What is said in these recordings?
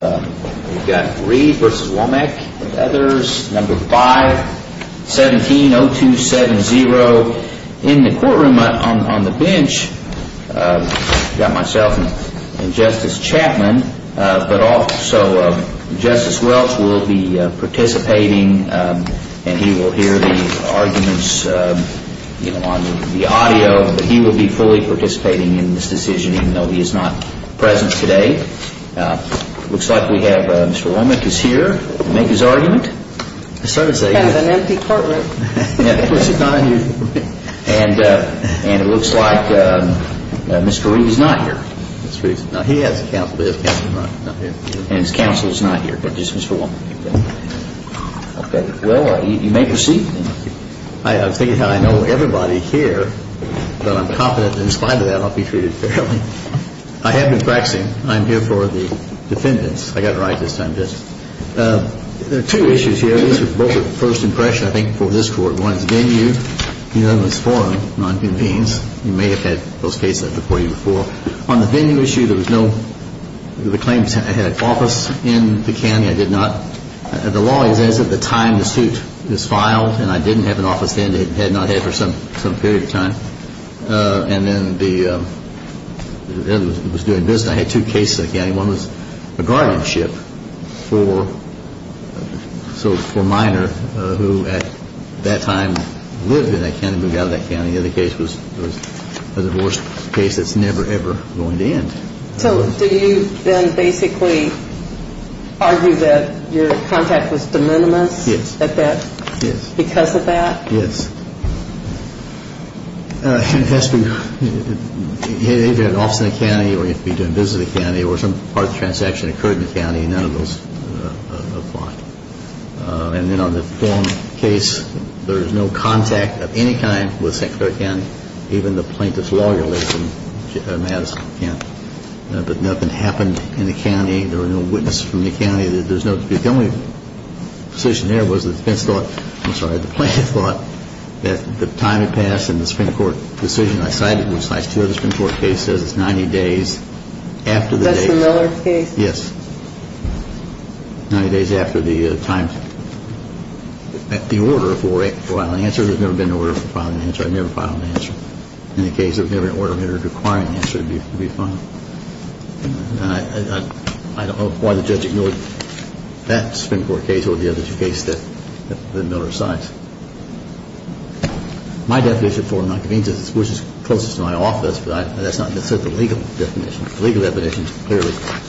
We've got Reed v. Womick and others. Number 5, 17-0270. In the courtroom on the bench we've got myself and Justice Chapman, but also Justice Welch will be participating and he will hear the arguments on the audio, but he will be fully participating in this decision even though he is not present today. It looks like Mr. Womick is here to make his argument. And it looks like Mr. Reed is not here. He has a counsel, but his counsel is not here. And his counsel is not here, but just Mr. Womick. Well, you may proceed. I think I know everybody here, but I'm confident in spite of that I'll be treated fairly. I have been practicing. I'm here for the defendants. I got it right this time, Justice. There are two issues here. These are both first impressions, I think, for this Court. One is venue, unanimous forum, nonconvenience. You may have had those cases before you before. On the venue issue, there was no claims I had an office in the county. I did not. The law is as of the time the suit is filed, and I didn't have an office then. It had not had for some period of time. And then the other was doing business. I had two cases in the county. One was a guardianship for a minor who at that time lived in that county, moved out of that county. The other case was a divorce case that's never, ever going to end. So do you then basically argue that your contact was de minimis because of that? Yes. You either had an office in the county, or you'd be doing business in the county, or some part of the transaction occurred in the county, and none of those apply. And then on the forum case, there is no contact of any kind with St. Clair County, even the plaintiff's lawyer lives in Madison County. But nothing happened in the county. There were no witnesses from the county. The only decision there was the defense thought, I'm sorry, the plaintiff thought that the time had passed and the Supreme Court decision I cited besides two other Supreme Court cases is 90 days after the date. That's the Miller case? Yes. Ninety days after the time. The order for filing an answer, there's never been an order for filing an answer. I've never filed an answer. In the case of an order requiring an answer to be filed. I don't know why the judge ignored that Supreme Court case over the other two cases that Miller cites. My definition of formal nonconvenience, which is closest to my office, but that's not necessarily the legal definition. The legal definition is clearly that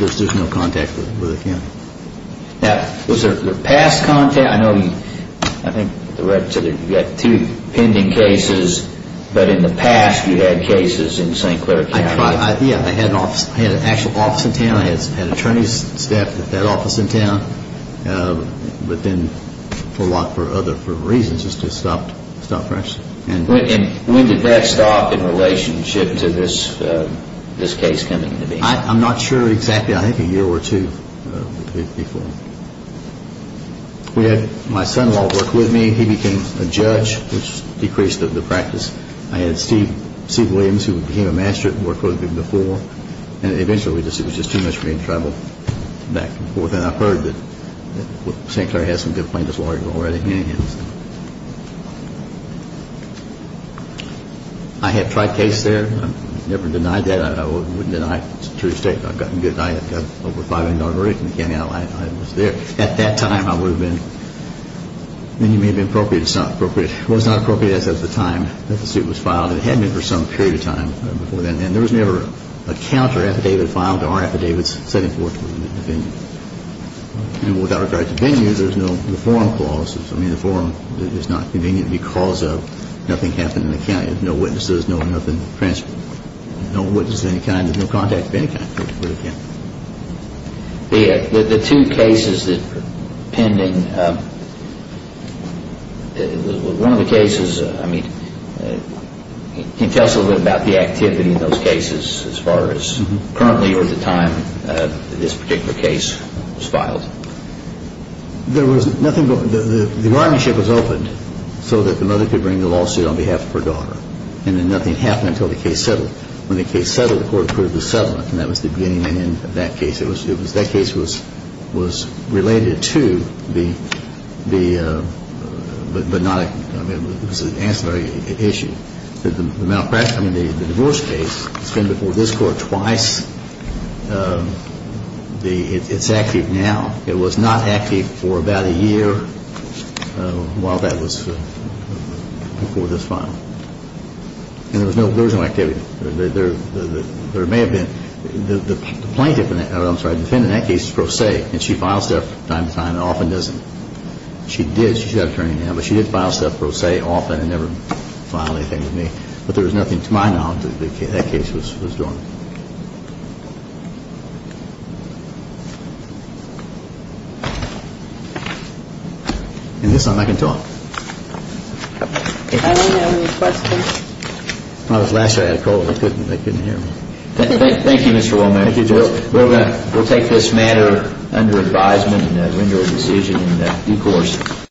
there's no contact with the county. Now, was there past contact? I know you've got two pending cases, but in the past you've had cases in St. Clair County. Yes, I had an actual office in town. I had attorney's staff at that office in town. But then for a lot of other reasons, it just stopped functioning. When did that stop in relationship to this case coming into being? I'm not sure exactly. I think a year or two before. We had my son-in-law work with me. He became a judge, which decreased the practice. I had Steve Williams, who became a master at work with me before. And eventually it was just too much for me to travel back and forth. And I've heard that St. Clair has some good plaintiffs lawyers already in his office. I had tried cases there. I never denied that. I wouldn't deny it. It's a true statement. I've gotten good. I've got over a $500 verdict in the county. I was there. At that time, I would have been. And you may have been appropriate. It's not appropriate. It was not appropriate as of the time that the suit was filed. It had been for some period of time before then. And there was never a counter affidavit filed or affidavits sent forward to the venue. And without regard to venues, there's no reform clauses. I mean, the forum is not convenient because of nothing happened in the county. There's no witnesses, no nothing transferred. No witnesses of any kind. There's no contact of any kind. The two cases that are pending, one of the cases, I mean, can you tell us a little bit about the activity in those cases as far as currently or at the time that this particular case was filed? There was nothing. The army ship was opened so that the mother could bring the lawsuit on behalf of her daughter. And then nothing happened until the case settled. When the case settled, the court approved the settlement. And that was the beginning and end of that case. That case was related to the, but not, I mean, it was an ancillary issue. The malpractice, I mean, the divorce case, it's been before this court twice. It's active now. It was not active for about a year while that was before this filing. And there was no activity. There may have been. The plaintiff, I'm sorry, the defendant in that case is pro se, and she files stuff from time to time and often doesn't. She did, she's an attorney now, but she did file stuff pro se often and never filed anything with me. But there was nothing to my knowledge that that case was doing. And this time I can talk. I don't have any questions. When I was last here, I had a cold. They couldn't hear me. Thank you, Mr. Wallman. Thank you, Joe. We'll take this matter under advisement in that window of decision in that due course.